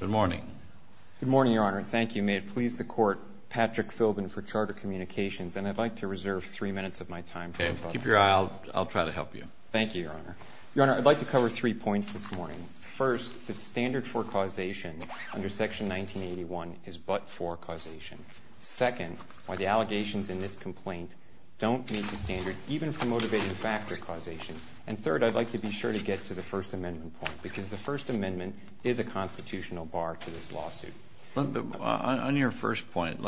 Good morning. Good morning, Your Honor. Thank you. May it please the Court, Patrick Philbin for Charter Communications. And I'd like to reserve three minutes of my time. Keep your eye out. I'll try to help you. Thank you, Your Honor. Your Honor, I'd like to cover three points this morning. First, the standard for causation under Section 1981 is but-for causation. Second, why the allegations in this complaint don't meet the standard, even for motivating factor causation. And third, I'd like to be sure to get to the First Amendment point because the First Amendment is a constitutional bar to this lawsuit. On your first point,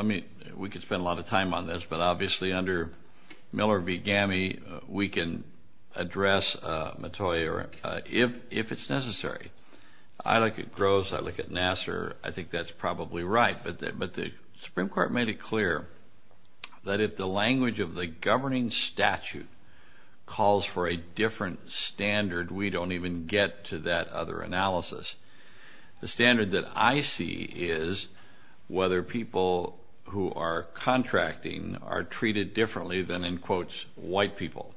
we could spend a lot of time on this, but obviously under Miller v. Gammey, we can address Mattoy if it's necessary. I look at Groves. I look at Nassar. I think that's probably right. But the Supreme Court made it clear that if the language of the governing statute calls for a different standard, we don't even get to that other analysis. The standard that I see is whether people who are contracting are treated differently than, in quotes, white people.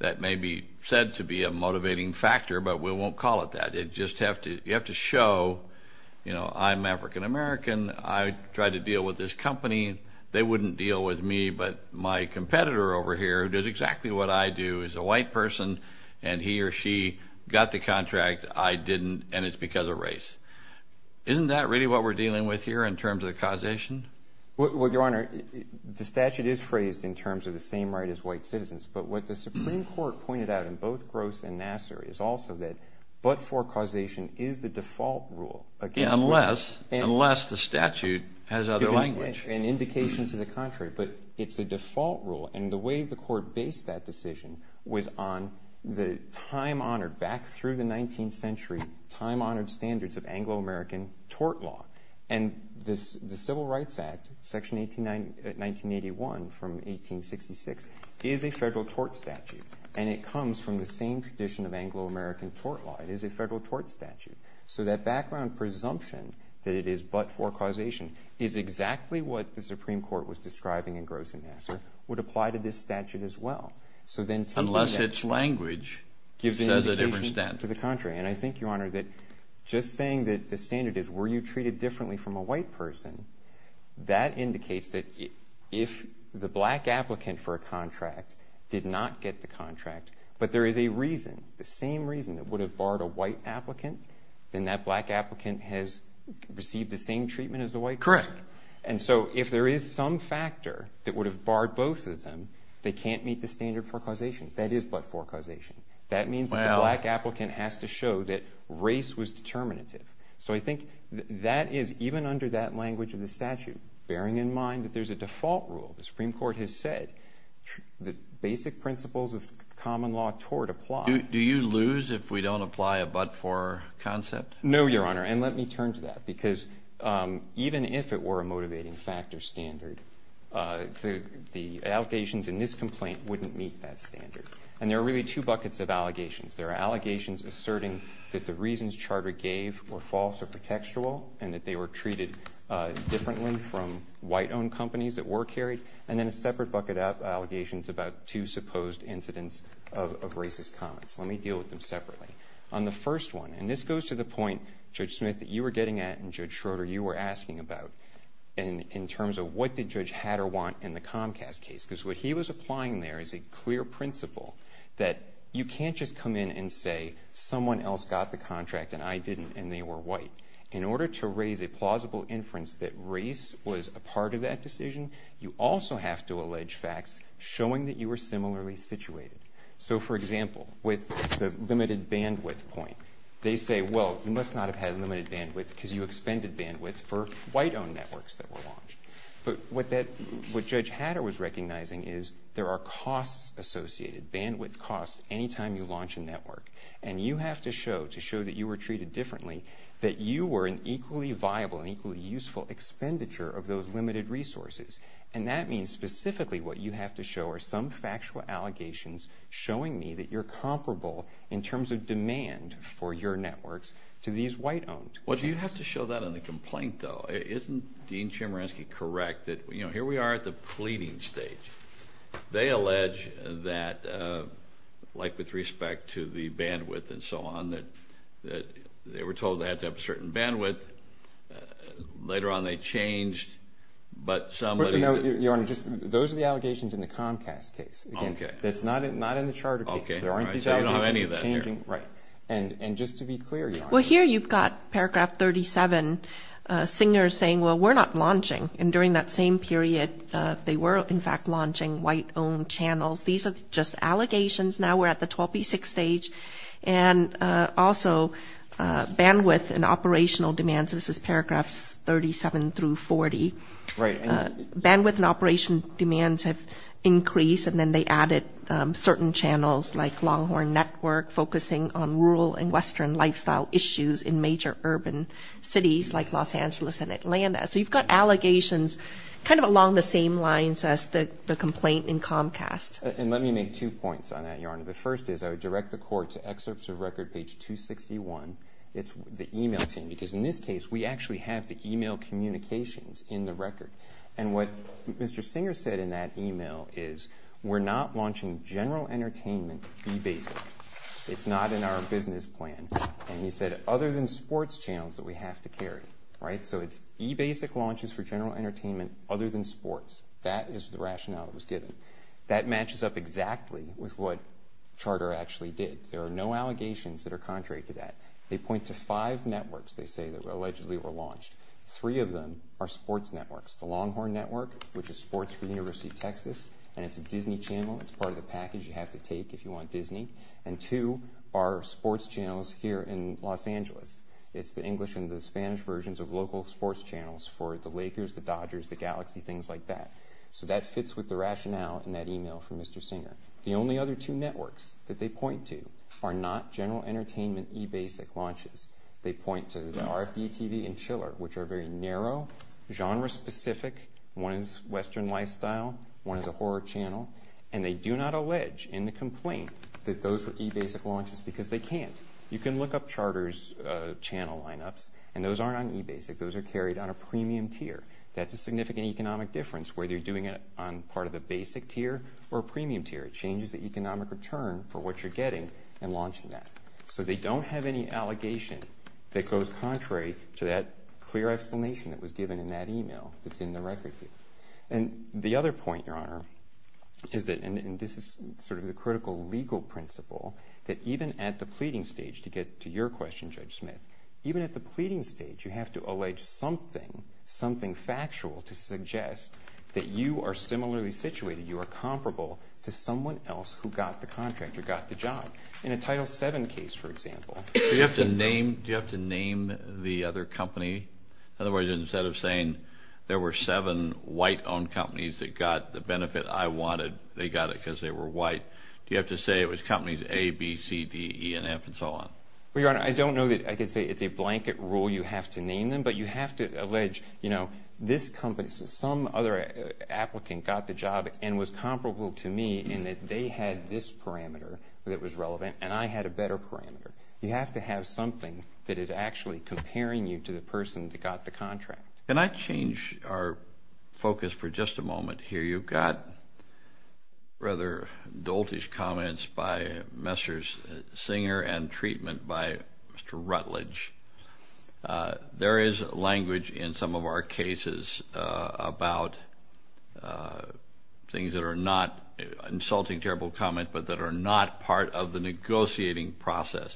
That may be said to be a motivating factor, but we won't call it that. You have to show, you know, I'm African American. I tried to deal with this company. They wouldn't deal with me, but my competitor over here, who does exactly what I do, is a white person, and he or she got the contract. I didn't, and it's because of race. Isn't that really what we're dealing with here in terms of causation? Well, Your Honor, the statute is phrased in terms of the same right as white citizens, but what the Supreme Court pointed out in both Groves and Nassar is also that but-for causation is the default rule. Unless the statute has other language. An indication to the contrary, but it's a default rule, and the way the court based that decision was on the time-honored, back through the 19th century, time-honored standards of Anglo-American tort law. And the Civil Rights Act, Section 1981 from 1866, is a federal tort statute, and it comes from the same tradition of Anglo-American tort law. It is a federal tort statute. So that background presumption that it is but-for causation is exactly what the Supreme Court was describing in Groves and Nassar, would apply to this statute as well. Unless its language gives a different statute. To the contrary, and I think, Your Honor, that just saying that the standard is were you treated differently from a white person, that indicates that if the black applicant for a contract did not get the contract, but there is a reason, the same reason that would have barred a white applicant, then that black applicant has received the same treatment as the white person. Correct. And so if there is some factor that would have barred both of them, they can't meet the standard for causation. That is but-for causation. That means that the black applicant has to show that race was determinative. So I think that is, even under that language of the statute, bearing in mind that there's a default rule. The Supreme Court has said that basic principles of common law tort apply. Do you lose if we don't apply a but-for concept? No, Your Honor, and let me turn to that. Because even if it were a motivating factor standard, the allegations in this complaint wouldn't meet that standard. And there are really two buckets of allegations. There are allegations asserting that the reasons Charter gave were false or pretextual and that they were treated differently from white-owned companies that were carried. And then a separate bucket of allegations about two supposed incidents of racist comments. Let me deal with them separately. On the first one, and this goes to the point, Judge Smith, that you were getting at and, Judge Schroeder, you were asking about, in terms of what did Judge Hatter want in the Comcast case. Because what he was applying there is a clear principle that you can't just come in and say someone else got the contract and I didn't and they were white. In order to raise a plausible inference that race was a part of that decision, you also have to allege facts showing that you were similarly situated. So, for example, with the limited bandwidth point. They say, well, you must not have had limited bandwidth because you expended bandwidth for white-owned networks that were launched. But what Judge Hatter was recognizing is there are costs associated. Bandwidth costs any time you launch a network. And you have to show, to show that you were treated differently, that you were an equally viable and equally useful expenditure of those limited resources. And that means specifically what you have to show are some factual allegations showing me that you're comparable in terms of demand for your networks to these white-owned. Well, do you have to show that in the complaint, though? Isn't Dean Chemerinsky correct that, you know, here we are at the pleading stage. They allege that, like with respect to the bandwidth and so on, that they were told they had to have a certain bandwidth. Later on they changed, but somebody— Your Honor, those are the allegations in the Comcast case. Okay. That's not in the charter case. There aren't these allegations of changing— I don't have any of that here. Right. And just to be clear, Your Honor— Well, here you've got paragraph 37. Singer is saying, well, we're not launching. And during that same period they were, in fact, launching white-owned channels. These are just allegations. Now we're at the 12B6 stage. And also bandwidth and operational demands—this is paragraphs 37 through 40. Right. Bandwidth and operational demands have increased, and then they added certain channels like Longhorn Network, focusing on rural and western lifestyle issues in major urban cities like Los Angeles and Atlanta. So you've got allegations kind of along the same lines as the complaint in Comcast. And let me make two points on that, Your Honor. The first is I would direct the court to excerpts of record page 261. It's the e-mail team, because in this case we actually have the e-mail communications in the record. And what Mr. Singer said in that e-mail is, we're not launching general entertainment e-basic. It's not in our business plan. And he said, other than sports channels that we have to carry. Right? So it's e-basic launches for general entertainment other than sports. That is the rationale that was given. That matches up exactly with what Charter actually did. There are no allegations that are contrary to that. They point to five networks, they say, that allegedly were launched. Three of them are sports networks. The Longhorn Network, which is sports for the University of Texas, and it's a Disney channel. It's part of the package you have to take if you want Disney. And two are sports channels here in Los Angeles. It's the English and the Spanish versions of local sports channels for the Lakers, the Dodgers, the Galaxy, things like that. So that fits with the rationale in that e-mail from Mr. Singer. The only other two networks that they point to are not general entertainment e-basic launches. They point to the RFD TV and Chiller, which are very narrow, genre-specific. One is Western Lifestyle. One is a horror channel. And they do not allege in the complaint that those were e-basic launches because they can't. You can look up charters channel lineups, and those aren't on e-basic. Those are carried on a premium tier. That's a significant economic difference whether you're doing it on part of the basic tier or a premium tier. It changes the economic return for what you're getting in launching that. So they don't have any allegation that goes contrary to that clear explanation that was given in that e-mail that's in the record here. And the other point, Your Honor, is that, and this is sort of the critical legal principle, that even at the pleading stage, to get to your question, Judge Smith, even at the pleading stage, you have to allege something, something factual to suggest that you are similarly situated, you are comparable to someone else who got the contract or got the job. In a Title VII case, for example. Do you have to name the other company? Otherwise, instead of saying there were seven white-owned companies that got the benefit I wanted, they got it because they were white, do you have to say it was companies A, B, C, D, E, and F, and so on? Well, Your Honor, I don't know that I could say it's a blanket rule you have to name them, but you have to allege, you know, this company, some other applicant got the job and was comparable to me in that they had this parameter that was relevant and I had a better parameter. You have to have something that is actually comparing you to the person that got the contract. Can I change our focus for just a moment here? You've got rather doltish comments by Messrs. Singer and treatment by Mr. Rutledge. There is language in some of our cases about things that are not, of the negotiating process.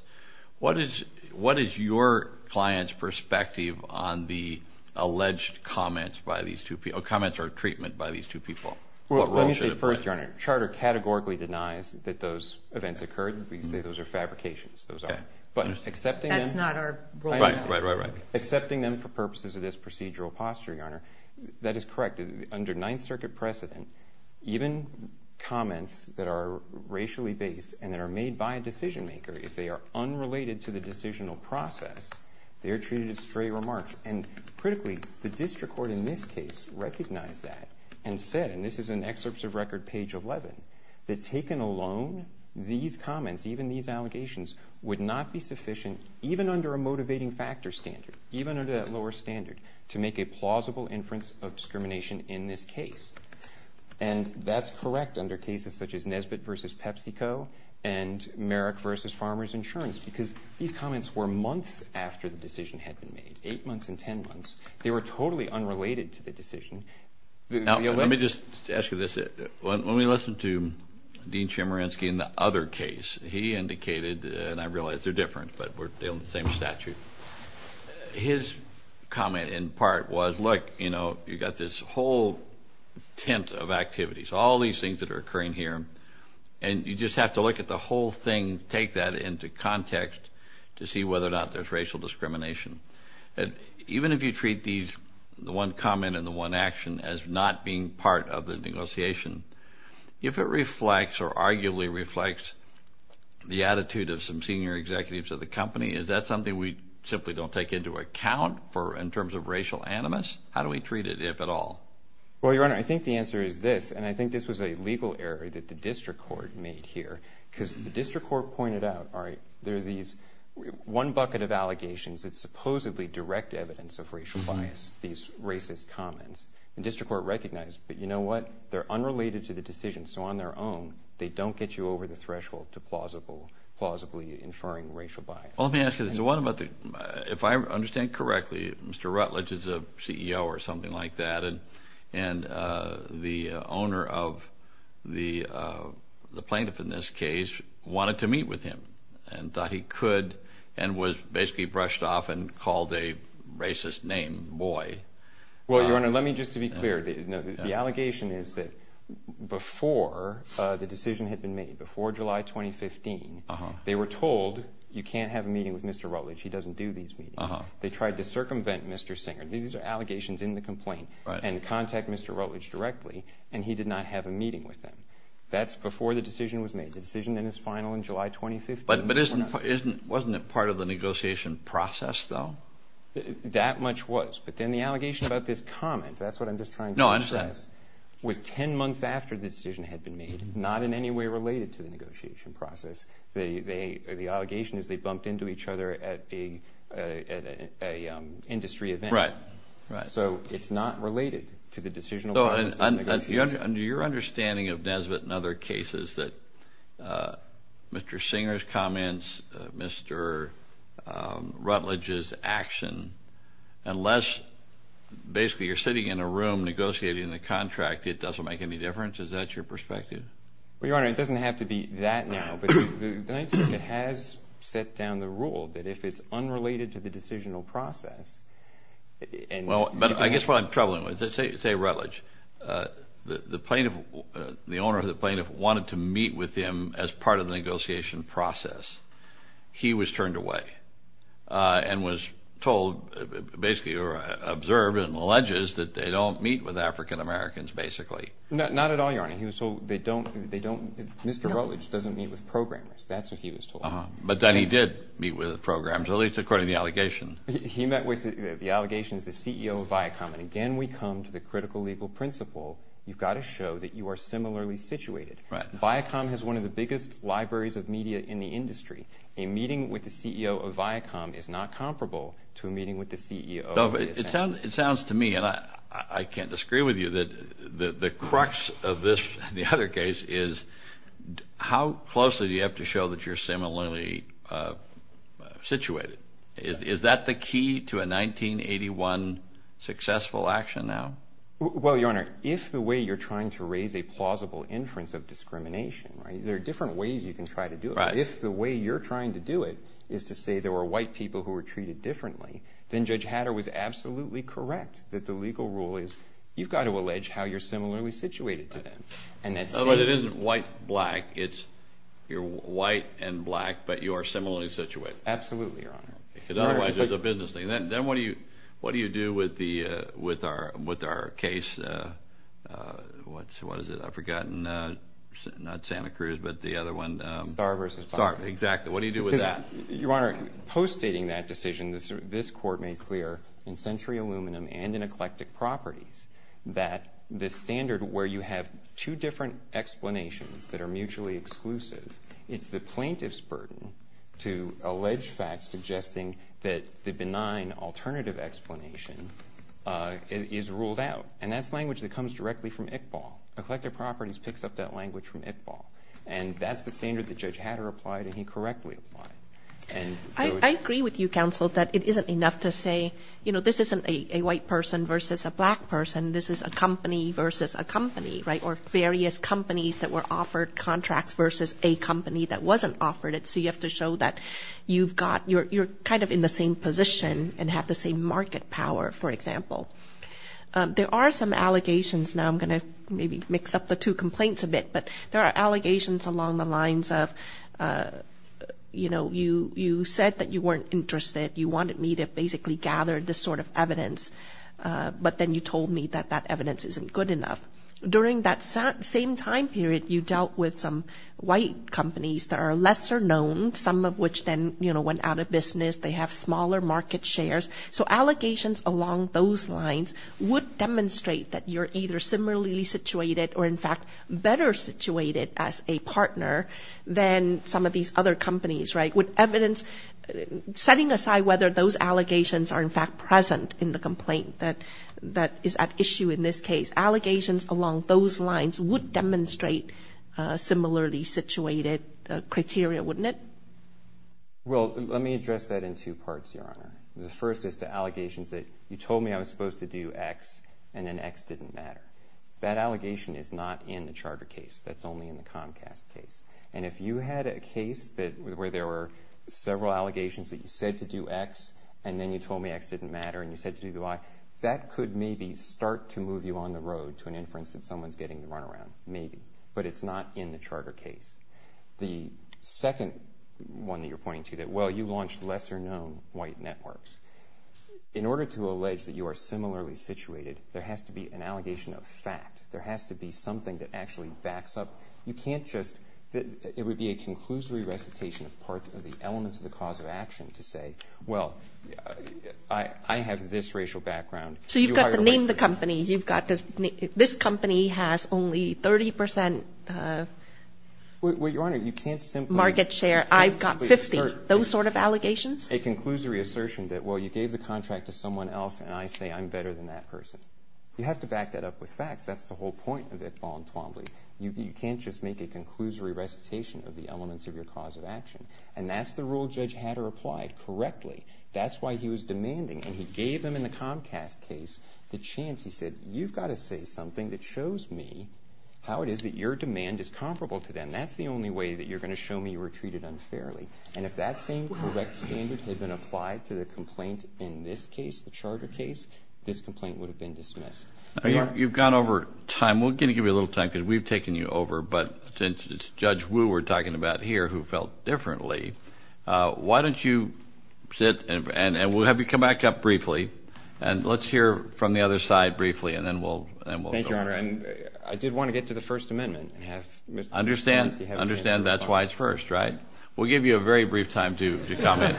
What is your client's perspective on the alleged comments by these two people, comments or treatment by these two people? Well, let me say first, Your Honor, Charter categorically denies that those events occurred. We say those are fabrications, those aren't. But accepting them for purposes of this procedural posture, Your Honor, that is correct. Under Ninth Circuit precedent, even comments that are racially based and that are made by a decision maker, if they are unrelated to the decisional process, they are treated as stray remarks. And critically, the district court in this case recognized that and said, and this is in excerpts of record page 11, that taken alone, these comments, even these allegations would not be sufficient, even under a motivating factor standard, even under that lower standard, to make a plausible inference of discrimination in this case. And that's correct under cases such as Nesbitt v. PepsiCo and Merrick v. Farmers Insurance because these comments were months after the decision had been made, eight months and ten months. They were totally unrelated to the decision. Now, let me just ask you this. When we listened to Dean Chemerinsky in the other case, he indicated, and I realize they're different, but we're dealing with the same statute. His comment in part was, look, you know, you've got this whole tent of activities, all these things that are occurring here, and you just have to look at the whole thing, take that into context to see whether or not there's racial discrimination. Even if you treat the one comment and the one action as not being part of the negotiation, if it reflects or arguably reflects the attitude of some senior executives of the company, is that something we simply don't take into account in terms of racial animus? How do we treat it, if at all? Well, Your Honor, I think the answer is this, and I think this was a legal error that the district court made here because the district court pointed out, all right, there are these one bucket of allegations that supposedly direct evidence of racial bias, these racist comments. The district court recognized, but you know what? They're unrelated to the decision, so on their own, they don't get you over the threshold to plausibly inferring racial bias. Well, let me ask you this. If I understand correctly, Mr. Rutledge is a CEO or something like that, and the owner of the plaintiff in this case wanted to meet with him and thought he could and was basically brushed off and called a racist name, boy. Well, Your Honor, let me just be clear. The allegation is that before the decision had been made, before July 2015, they were told you can't have a meeting with Mr. Rutledge, he doesn't do these meetings. They tried to circumvent Mr. Singer. These are allegations in the complaint and contact Mr. Rutledge directly, and he did not have a meeting with him. That's before the decision was made. The decision then is final in July 2015. But wasn't it part of the negotiation process, though? That much was. But then the allegation about this comment, that's what I'm just trying to emphasize, was ten months after the decision had been made, not in any way related to the negotiation process. The allegation is they bumped into each other at an industry event. So it's not related to the decisional process of negotiation. Under your understanding of Nesbitt and other cases that Mr. Singer's comments, Mr. Rutledge's action, unless basically you're sitting in a room negotiating the contract, it doesn't make any difference? Is that your perspective? Well, Your Honor, it doesn't have to be that now, but the Ninth Circuit has set down the rule that if it's unrelated to the decisional process. Well, I guess what I'm troubling with, say Rutledge, the owner of the plaintiff wanted to meet with him as part of the negotiation process. He was turned away and was told, basically, or observed and alleges that they don't meet with African Americans, basically. Not at all, Your Honor. He was told they don't. Mr. Rutledge doesn't meet with programmers. That's what he was told. But then he did meet with programmers, at least according to the allegation. He met with the allegations, the CEO of Viacom. And again, we come to the critical legal principle. You've got to show that you are similarly situated. Viacom has one of the biggest libraries of media in the industry. A meeting with the CEO of Viacom is not comparable to a meeting with the CEO of Viacom. It sounds to me, and I can't disagree with you, that the crux of this and the other case is how closely do you have to show that you're similarly situated? Is that the key to a 1981 successful action now? Well, Your Honor, if the way you're trying to raise a plausible inference of discrimination, there are different ways you can try to do it. If the way you're trying to do it is to say there were white people who were treated differently, then Judge Hatter was absolutely correct that the legal rule is you've got to allege how you're similarly situated to them. But it isn't white, black. It's you're white and black, but you are similarly situated. Absolutely, Your Honor. Because otherwise it's a business thing. Then what do you do with our case? What is it? I've forgotten. Not Santa Cruz, but the other one. Starr v. Fox. Sorry, exactly. What do you do with that? Your Honor, post-stating that decision, this Court made clear in Century Aluminum and in Eclectic Properties that the standard where you have two different explanations that are mutually exclusive, it's the plaintiff's burden to allege facts suggesting that the benign alternative explanation is ruled out. And that's language that comes directly from ICBAL. Eclectic Properties picks up that language from ICBAL. And that's the standard that Judge Hatter applied and he correctly applied. I agree with you, counsel, that it isn't enough to say, you know, this isn't a white person versus a black person. This is a company versus a company, right, or various companies that were offered contracts versus a company that wasn't offered it. So you have to show that you're kind of in the same position and have the same market power, for example. There are some allegations. Now I'm going to maybe mix up the two complaints a bit, but there are allegations along the lines of, you know, you said that you weren't interested, you wanted me to basically gather this sort of evidence, but then you told me that that evidence isn't good enough. During that same time period, you dealt with some white companies that are lesser known, some of which then, you know, went out of business. They have smaller market shares. So allegations along those lines would demonstrate that you're either similarly situated or, in fact, better situated as a partner than some of these other companies, right, with evidence setting aside whether those allegations are, in fact, present in the complaint that is at issue in this case. Allegations along those lines would demonstrate similarly situated criteria, wouldn't it? Well, let me address that in two parts, Your Honor. The first is to allegations that you told me I was supposed to do X and then X didn't matter. That allegation is not in the charter case. That's only in the Comcast case. And if you had a case where there were several allegations that you said to do X and then you told me X didn't matter and you said to do Y, that could maybe start to move you on the road to an inference that someone's getting the runaround. Maybe. But it's not in the charter case. The second one that you're pointing to that, well, you launched lesser known white networks, in order to allege that you are similarly situated, there has to be an allegation of fact. There has to be something that actually backs up. You can't just – it would be a conclusory recitation of parts of the elements of the cause of action to say, Well, I have this racial background. So you've got to name the companies. You've got to – this company has only 30 percent of market share. I've got 50. Those sort of allegations? A conclusory assertion that, well, you gave the contract to someone else and I say I'm better than that person. You have to back that up with facts. That's the whole point of it. You can't just make a conclusory recitation of the elements of your cause of action. And that's the rule Judge Hatter applied correctly. That's why he was demanding, and he gave them in the Comcast case the chance. He said, You've got to say something that shows me how it is that your demand is comparable to them. That's the only way that you're going to show me you were treated unfairly. And if that same correct standard had been applied to the complaint in this case, the charter case, this complaint would have been dismissed. You've gone over time. We're going to give you a little time because we've taken you over. But since it's Judge Wu we're talking about here who felt differently, why don't you sit and we'll have you come back up briefly and let's hear from the other side briefly and then we'll go on. Thank you, Your Honor. I did want to get to the First Amendment. Understand that's why it's first, right? We'll give you a very brief time to comment.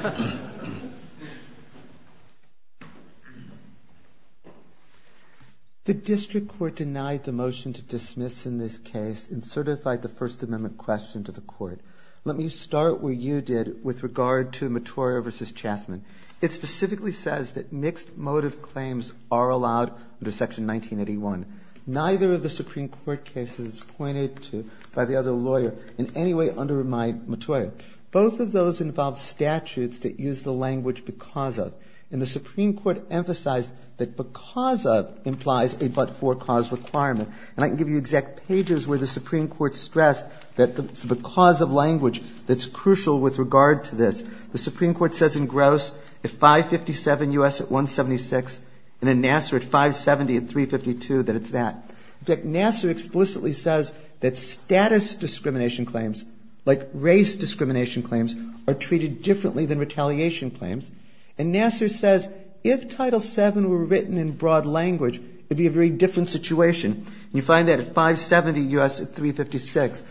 The district court denied the motion to dismiss in this case and certified the First Amendment question to the court. Let me start where you did with regard to Mottorio v. Chastman. It specifically says that mixed motive claims are allowed under Section 1981. Neither of the Supreme Court cases pointed to by the other lawyer in any way undermine Mottorio. Both of those involve statutes that use the language because of. And the Supreme Court emphasized that because of implies a but-for cause requirement. And I can give you exact pages where the Supreme Court stressed that it's because of language that's crucial with regard to this. The Supreme Court says in Gross at 557 U.S. at 176 and in Nassar at 570 at 352 that it's that. In fact, Nassar explicitly says that status discrimination claims, like race discrimination claims, are treated differently than retaliation claims. And Nassar says if Title VII were written in broad language, it would be a very different situation. And you find that at 570 U.S. at 356.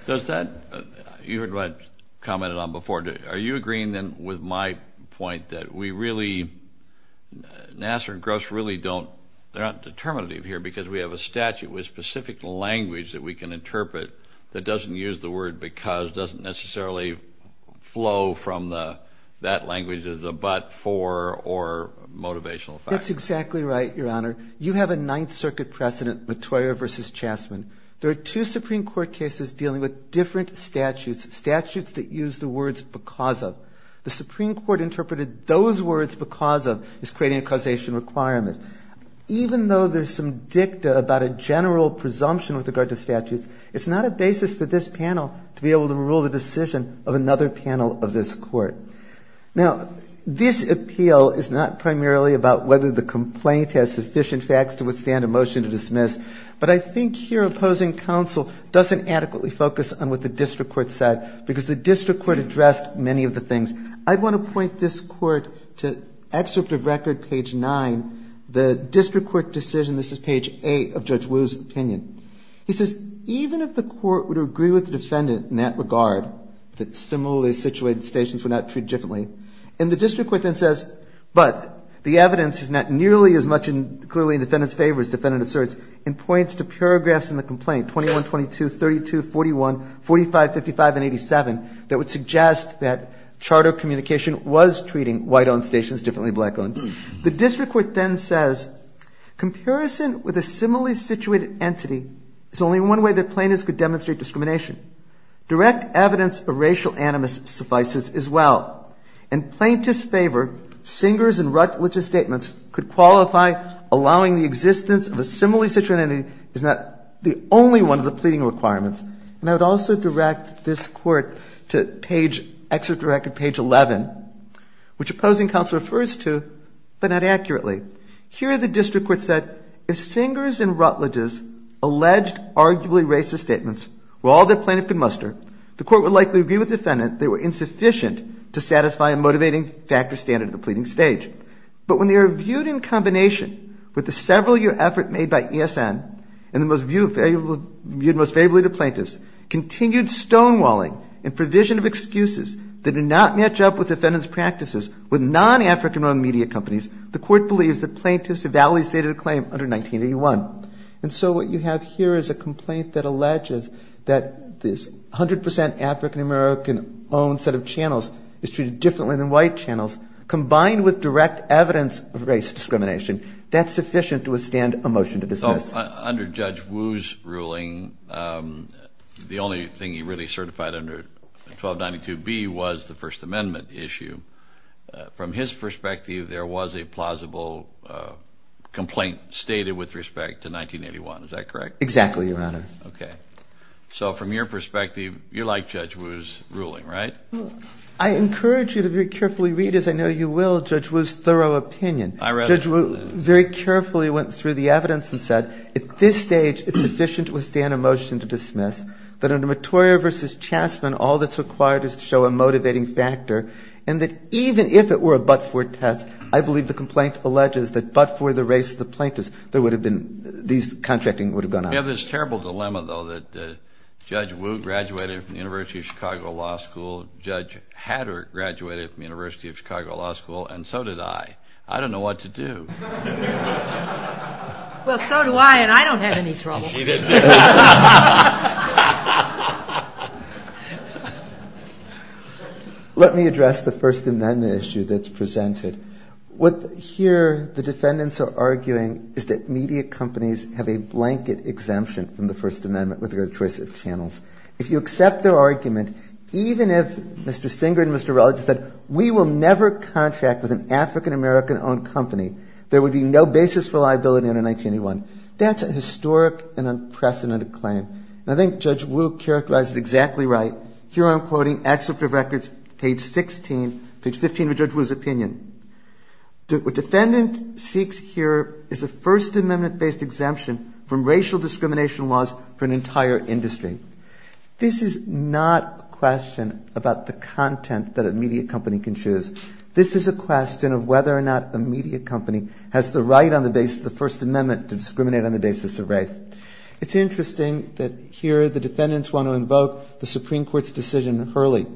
You heard what I commented on before. Are you agreeing then with my point that we really, Nassar and Gross really don't, they're not determinative here because we have a statute with specific language that we can interpret that doesn't use the word because, doesn't necessarily flow from that language as a but-for or motivational factor? That's exactly right, Your Honor. You have a Ninth Circuit precedent, Mottorio v. Chastman. There are two Supreme Court cases dealing with different statutes, statutes that use the words because of. The Supreme Court interpreted those words because of as creating a causation requirement. Even though there's some dicta about a general presumption with regard to statutes, it's not a basis for this panel to be able to rule the decision of another panel of this court. Now, this appeal is not primarily about whether the complaint has sufficient facts to withstand a motion to dismiss, but I think your opposing counsel doesn't adequately focus on what the district court said because the district court addressed many of the things. And I want to point this Court to excerpt of record, page 9, the district court decision. This is page 8 of Judge Wu's opinion. He says, even if the court would agree with the defendant in that regard, that similarly situated statutes were not treated differently, and the district court then says, but the evidence is not nearly as much clearly in the defendant's favor as the defendant asserts, and points to paragraphs in the complaint, 21, 22, 32, 41, 45, 55, and 87, that would suggest that charter communication was treating white-owned stations differently than black-owned. The district court then says, Comparison with a similarly situated entity is only one way that plaintiffs could demonstrate discrimination. Direct evidence of racial animus suffices as well. In plaintiffs' favor, Singer's and Rutledge's statements could qualify allowing the existence of a similarly situated entity as not the only one of the pleading requirements. And I would also direct this Court to page, excerpt of record, page 11, which opposing counsel refers to, but not accurately. Here the district court said, If Singer's and Rutledge's alleged arguably racist statements were all that plaintiff could muster, the court would likely agree with the defendant they were insufficient to satisfy a motivating factor standard of the pleading stage. But when they are viewed in combination with the several-year effort made by ESN and viewed most favorably to plaintiffs, continued stonewalling and provision of excuses that do not match up with defendants' practices with non-African-owned media companies, the court believes that plaintiffs have validly stated a claim under 1981. And so what you have here is a complaint that alleges that this 100 percent African-American-owned set of channels is treated differently than white channels, combined with direct evidence of race discrimination. That's sufficient to withstand a motion to dismiss. So under Judge Wu's ruling, the only thing he really certified under 1292B was the First Amendment issue. From his perspective, there was a plausible complaint stated with respect to 1981. Is that correct? Exactly, Your Honor. Okay. So from your perspective, you like Judge Wu's ruling, right? I encourage you to very carefully read, as I know you will, Judge Wu's thorough opinion. I read it. Judge Wu very carefully went through the evidence and said, at this stage it's sufficient to withstand a motion to dismiss, that under Mottorio v. Chastman all that's required is to show a motivating factor, and that even if it were a but-for test, I believe the complaint alleges that but for the race of the plaintiffs, there would have been, these contracting would have gone on. We have this terrible dilemma, though, that Judge Wu graduated from the University of Chicago Law School, Judge Hatter graduated from the University of Chicago Law School, and so did I. I don't know what to do. Well, so do I, and I don't have any trouble. She didn't. Let me address the First Amendment issue that's presented. What here the defendants are arguing is that media companies have a blanket exemption from the First Amendment with regard to the choice of channels. If you accept their argument, even if Mr. Singer and Mr. Relig said, we will never contract with an African-American-owned company, there would be no basis for liability under 1981. That's a historic and unprecedented claim. And I think Judge Wu characterized it exactly right. Here I'm quoting excerpt of records, page 16, page 15 of Judge Wu's opinion. What defendant seeks here is a First Amendment-based exemption from racial discrimination laws for an entire industry. This is not a question about the content that a media company can choose. This is a question of whether or not a media company has the right on the basis of the First Amendment to discriminate on the basis of race. It's interesting that here the defendants want to invoke the Supreme Court's decision in Hurley.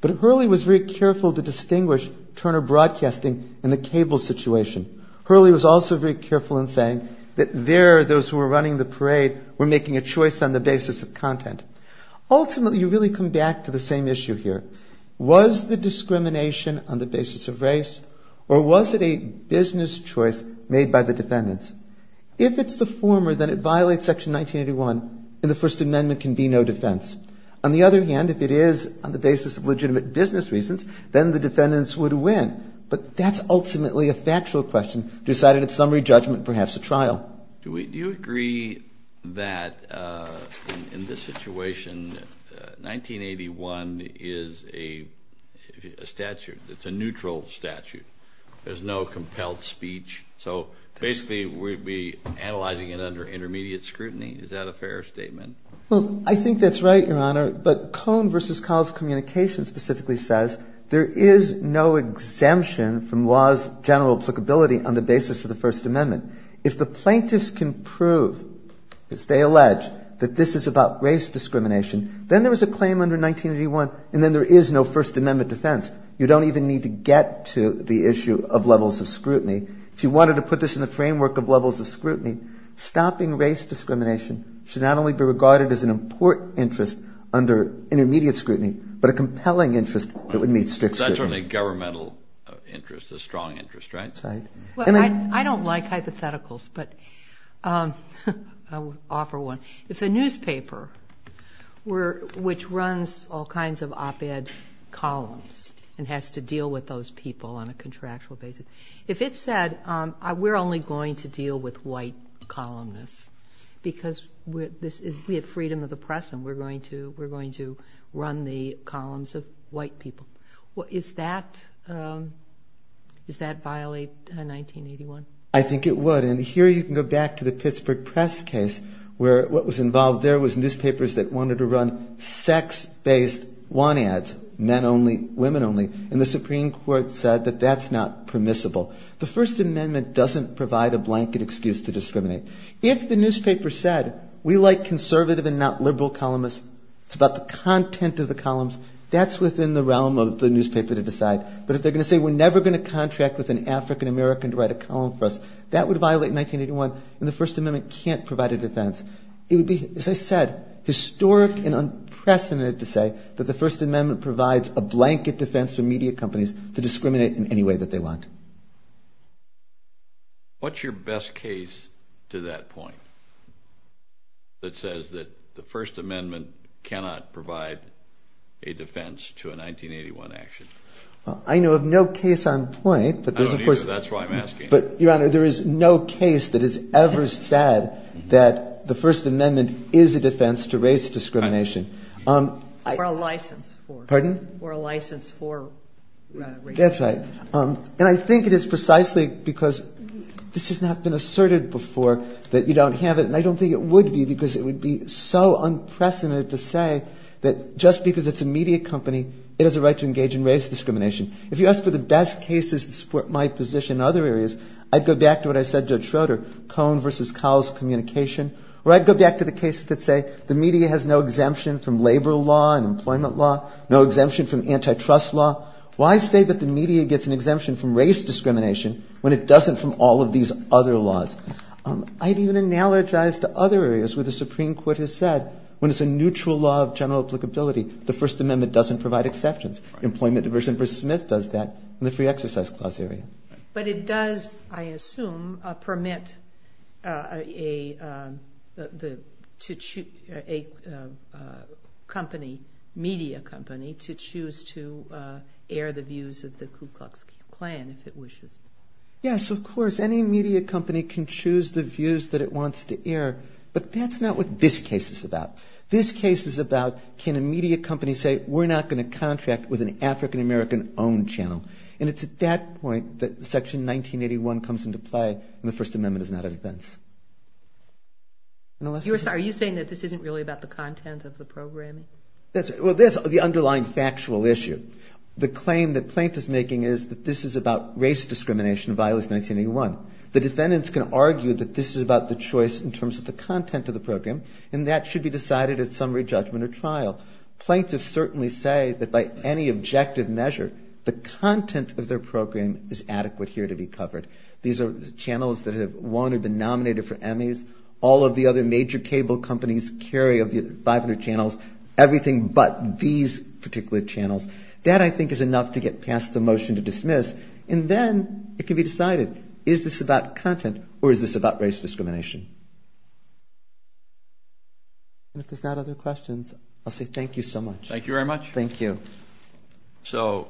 But Hurley was very careful to distinguish Turner Broadcasting and the cable situation. Hurley was also very careful in saying that there those who were running the parade were making a choice on the basis of content. Ultimately, you really come back to the same issue here. Was the discrimination on the basis of race? Or was it a business choice made by the defendants? If it's the former, then it violates Section 1981, and the First Amendment can be no defense. On the other hand, if it is on the basis of legitimate business reasons, then the defendants would win. Do you agree that in this situation 1981 is a statute? It's a neutral statute. There's no compelled speech. So basically we'd be analyzing it under intermediate scrutiny. Is that a fair statement? Well, I think that's right, Your Honor. But Cone v. Kyle's communication specifically says there is no exemption from law's general applicability on the basis of the First Amendment. If the plaintiffs can prove, as they allege, that this is about race discrimination, then there is a claim under 1981, and then there is no First Amendment defense. You don't even need to get to the issue of levels of scrutiny. If you wanted to put this in the framework of levels of scrutiny, stopping race discrimination should not only be regarded as an important interest under intermediate scrutiny, but a compelling interest that would meet strict scrutiny. That's only a governmental interest, a strong interest, right? I don't like hypotheticals, but I will offer one. If a newspaper, which runs all kinds of op-ed columns and has to deal with those people on a contractual basis, if it said, we're only going to deal with white columnists because we have freedom of the press and we're going to run the columns of white people, is that violate 1981? I think it would, and here you can go back to the Pittsburgh Press case where what was involved there was newspapers that wanted to run sex-based want ads, men only, women only, and the Supreme Court said that that's not permissible. The First Amendment doesn't provide a blanket excuse to discriminate. If the newspaper said, we like conservative and not liberal columnists, it's about the content of the columns, that's within the realm of the newspaper to decide. But if they're going to say, we're never going to contract with an African American to write a column for us, that would violate 1981, and the First Amendment can't provide a defense. It would be, as I said, historic and unprecedented to say that the First Amendment provides a blanket defense for media companies to discriminate in any way that they want. What's your best case to that point that says that the First Amendment cannot provide a defense to a 1981 action? I know of no case on point. I don't either, that's why I'm asking. Your Honor, there is no case that has ever said that the First Amendment is a defense to race discrimination. Or a license for. Pardon? And I think it is precisely because this has not been asserted before that you don't have it, and I don't think it would be because it would be so unprecedented to say that just because it's a media company, it has a right to engage in race discrimination. If you asked for the best cases to support my position in other areas, I'd go back to what I said to Judge Schroeder, Cohn v. Cowell's communication, or I'd go back to the cases that say the media has no exemption from labor law and employment law, no exemption from antitrust law. Why say that the media gets an exemption from race discrimination when it doesn't from all of these other laws? I'd even analogize to other areas where the Supreme Court has said when it's a neutral law of general applicability, the First Amendment doesn't provide exceptions. Employment Diversion v. Smith does that in the Free Exercise Clause area. But it does, I assume, permit a company, media company, to choose to engage in race discrimination. Yes, of course, any media company can choose the views that it wants to air, but that's not what this case is about. This case is about can a media company say we're not going to contract with an African American owned channel. And it's at that point that Section 1981 comes into play, and the First Amendment is not a defense. You're saying that this isn't really about the content of the program? Well, that's the underlying factual issue. The claim that Plaintiff's making is that this is about race discrimination, v. 1981. The defendants can argue that this is about the choice in terms of the content of the program, and that should be decided at summary judgment or trial. Plaintiffs certainly say that by any objective measure, the content of their program is adequate here to be covered. These are channels that have won or been nominated for Emmys. All of the other major cable companies carry 500 channels, everything but these particular channels. That, I think, is enough to get past the motion to dismiss, and then it can be decided, is this about content or is this about race discrimination? And if there's not other questions, I'll say thank you so much. Thank you very much. So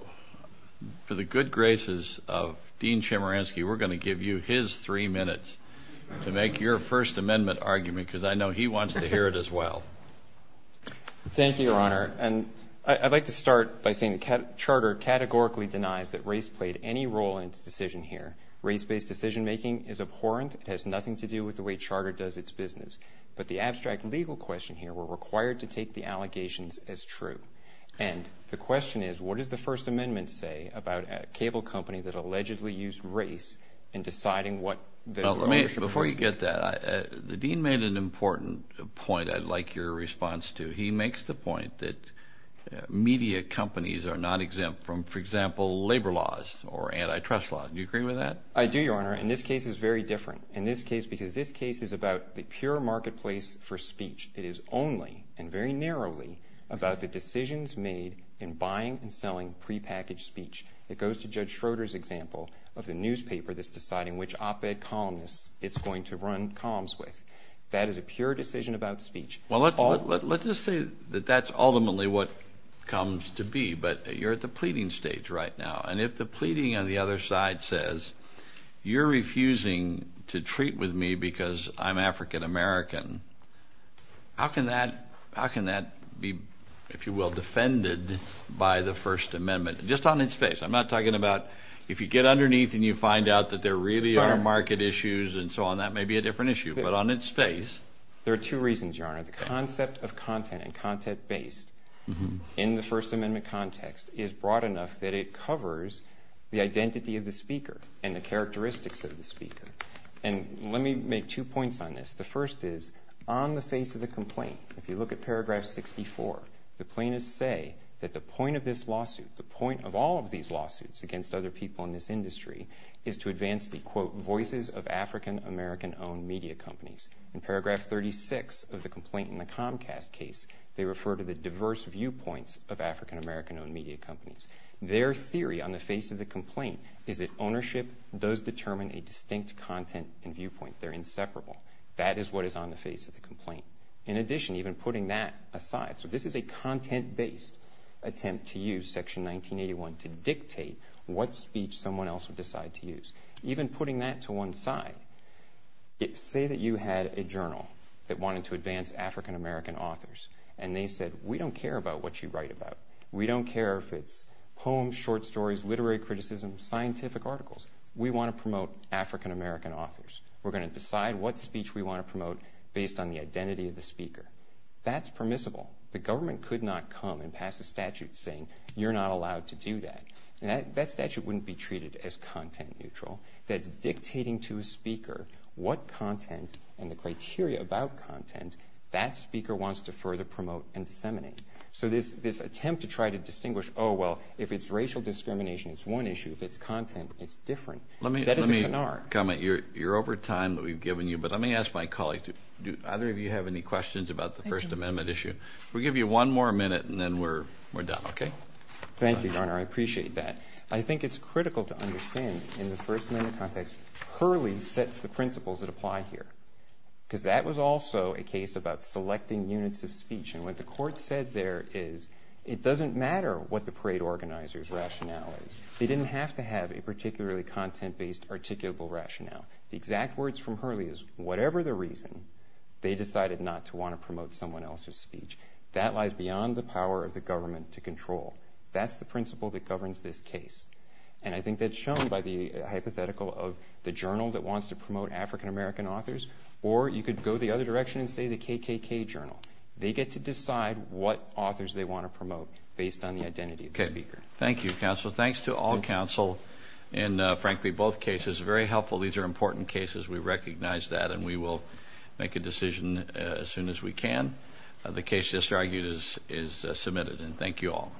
for the good graces of Dean Chemerinsky, we're going to give you his three minutes to make your First Amendment argument, because I know he wants to hear it as well. Thank you, Your Honor. And I'd like to start by saying that Charter categorically denies that race played any role in its decision here. Race-based decision-making is abhorrent. It has nothing to do with the way Charter does its business. But the abstract legal question here, we're required to take the allegations as true. And the question is, what does the First Amendment say about a cable company that allegedly used race in deciding what their ownership was? Before you get that, the dean made an important point I'd like your response to. He makes the point that media companies are not exempt from, for example, labor laws or antitrust laws. Do you agree with that? I do, Your Honor, and this case is very different in this case because this case is about the pure marketplace for speech. It is only and very narrowly about the decisions made in buying and selling prepackaged speech. It goes to Judge Schroeder's example of the newspaper that's deciding which op-ed columnist it's going to run columns with. That is a pure decision about speech. Well, let's just say that that's ultimately what comes to be. But you're at the pleading stage right now, and if the pleading on the other side says, you're refusing to treat with me because I'm African-American, how can that be, if you will, defended by the First Amendment just on its face? I'm not talking about if you get underneath and you find out that there really are market issues and so on, that may be a different issue, but on its face. There are two reasons, Your Honor. The concept of content and content-based in the First Amendment context is broad enough that it covers the identity of the speaker and the characteristics of the speaker, and let me make two points on this. The first is, on the face of the complaint, if you look at Paragraph 64, the plaintiffs say that the point of this lawsuit, the point of all of these lawsuits against other people in this industry, is to advance the, quote, voices of African-American-owned media companies. In Paragraph 36 of the complaint in the Comcast case, they refer to the diverse viewpoints of African-American-owned media companies. Their theory on the face of the complaint is that ownership does determine a distinct content and viewpoint. They're inseparable. That is what is on the face of the complaint. In addition, even putting that aside, so this is a content-based attempt to use Section 1981 to dictate what speech someone else would decide to use. Even putting that to one side, say that you had a journal that wanted to advance African-American authors, and they said, we don't care about what you write about. We don't care if it's poems, short stories, literary criticism, scientific articles. We want to promote African-American authors. We're going to decide what speech we want to promote based on the identity of the speaker. That's permissible. The government could not come and pass a statute saying you're not allowed to do that. That statute wouldn't be treated as content neutral. That's dictating to a speaker what content and the criteria about content that speaker wants to further promote and disseminate. So this attempt to try to distinguish, oh, well, if it's racial discrimination, it's one issue. If it's content, it's different. Let me ask my colleague, do either of you have any questions about the First Amendment issue? We'll give you one more minute, and then we're done, okay? Thank you, Your Honor, I appreciate that. I think it's critical to understand in the First Amendment context, Hurley sets the principles that apply here. Because that was also a case about selecting units of speech. And what the court said there is it doesn't matter what the parade organizer's rationale is. They didn't have to have a particularly content-based, articulable rationale. The exact words from Hurley is whatever the reason, they decided not to want to promote someone else's speech. That lies beyond the power of the government to control. That's the principle that governs this case. And I think that's shown by the hypothetical of the journal that wants to promote African-American authors. Or you could go the other direction and say the KKK journal. They get to decide what authors they want to promote based on the identity of the speaker. Thank you, counsel. So thanks to all counsel in, frankly, both cases. Very helpful. These are important cases. We recognize that, and we will make a decision as soon as we can. The case just argued is submitted. And thank you all.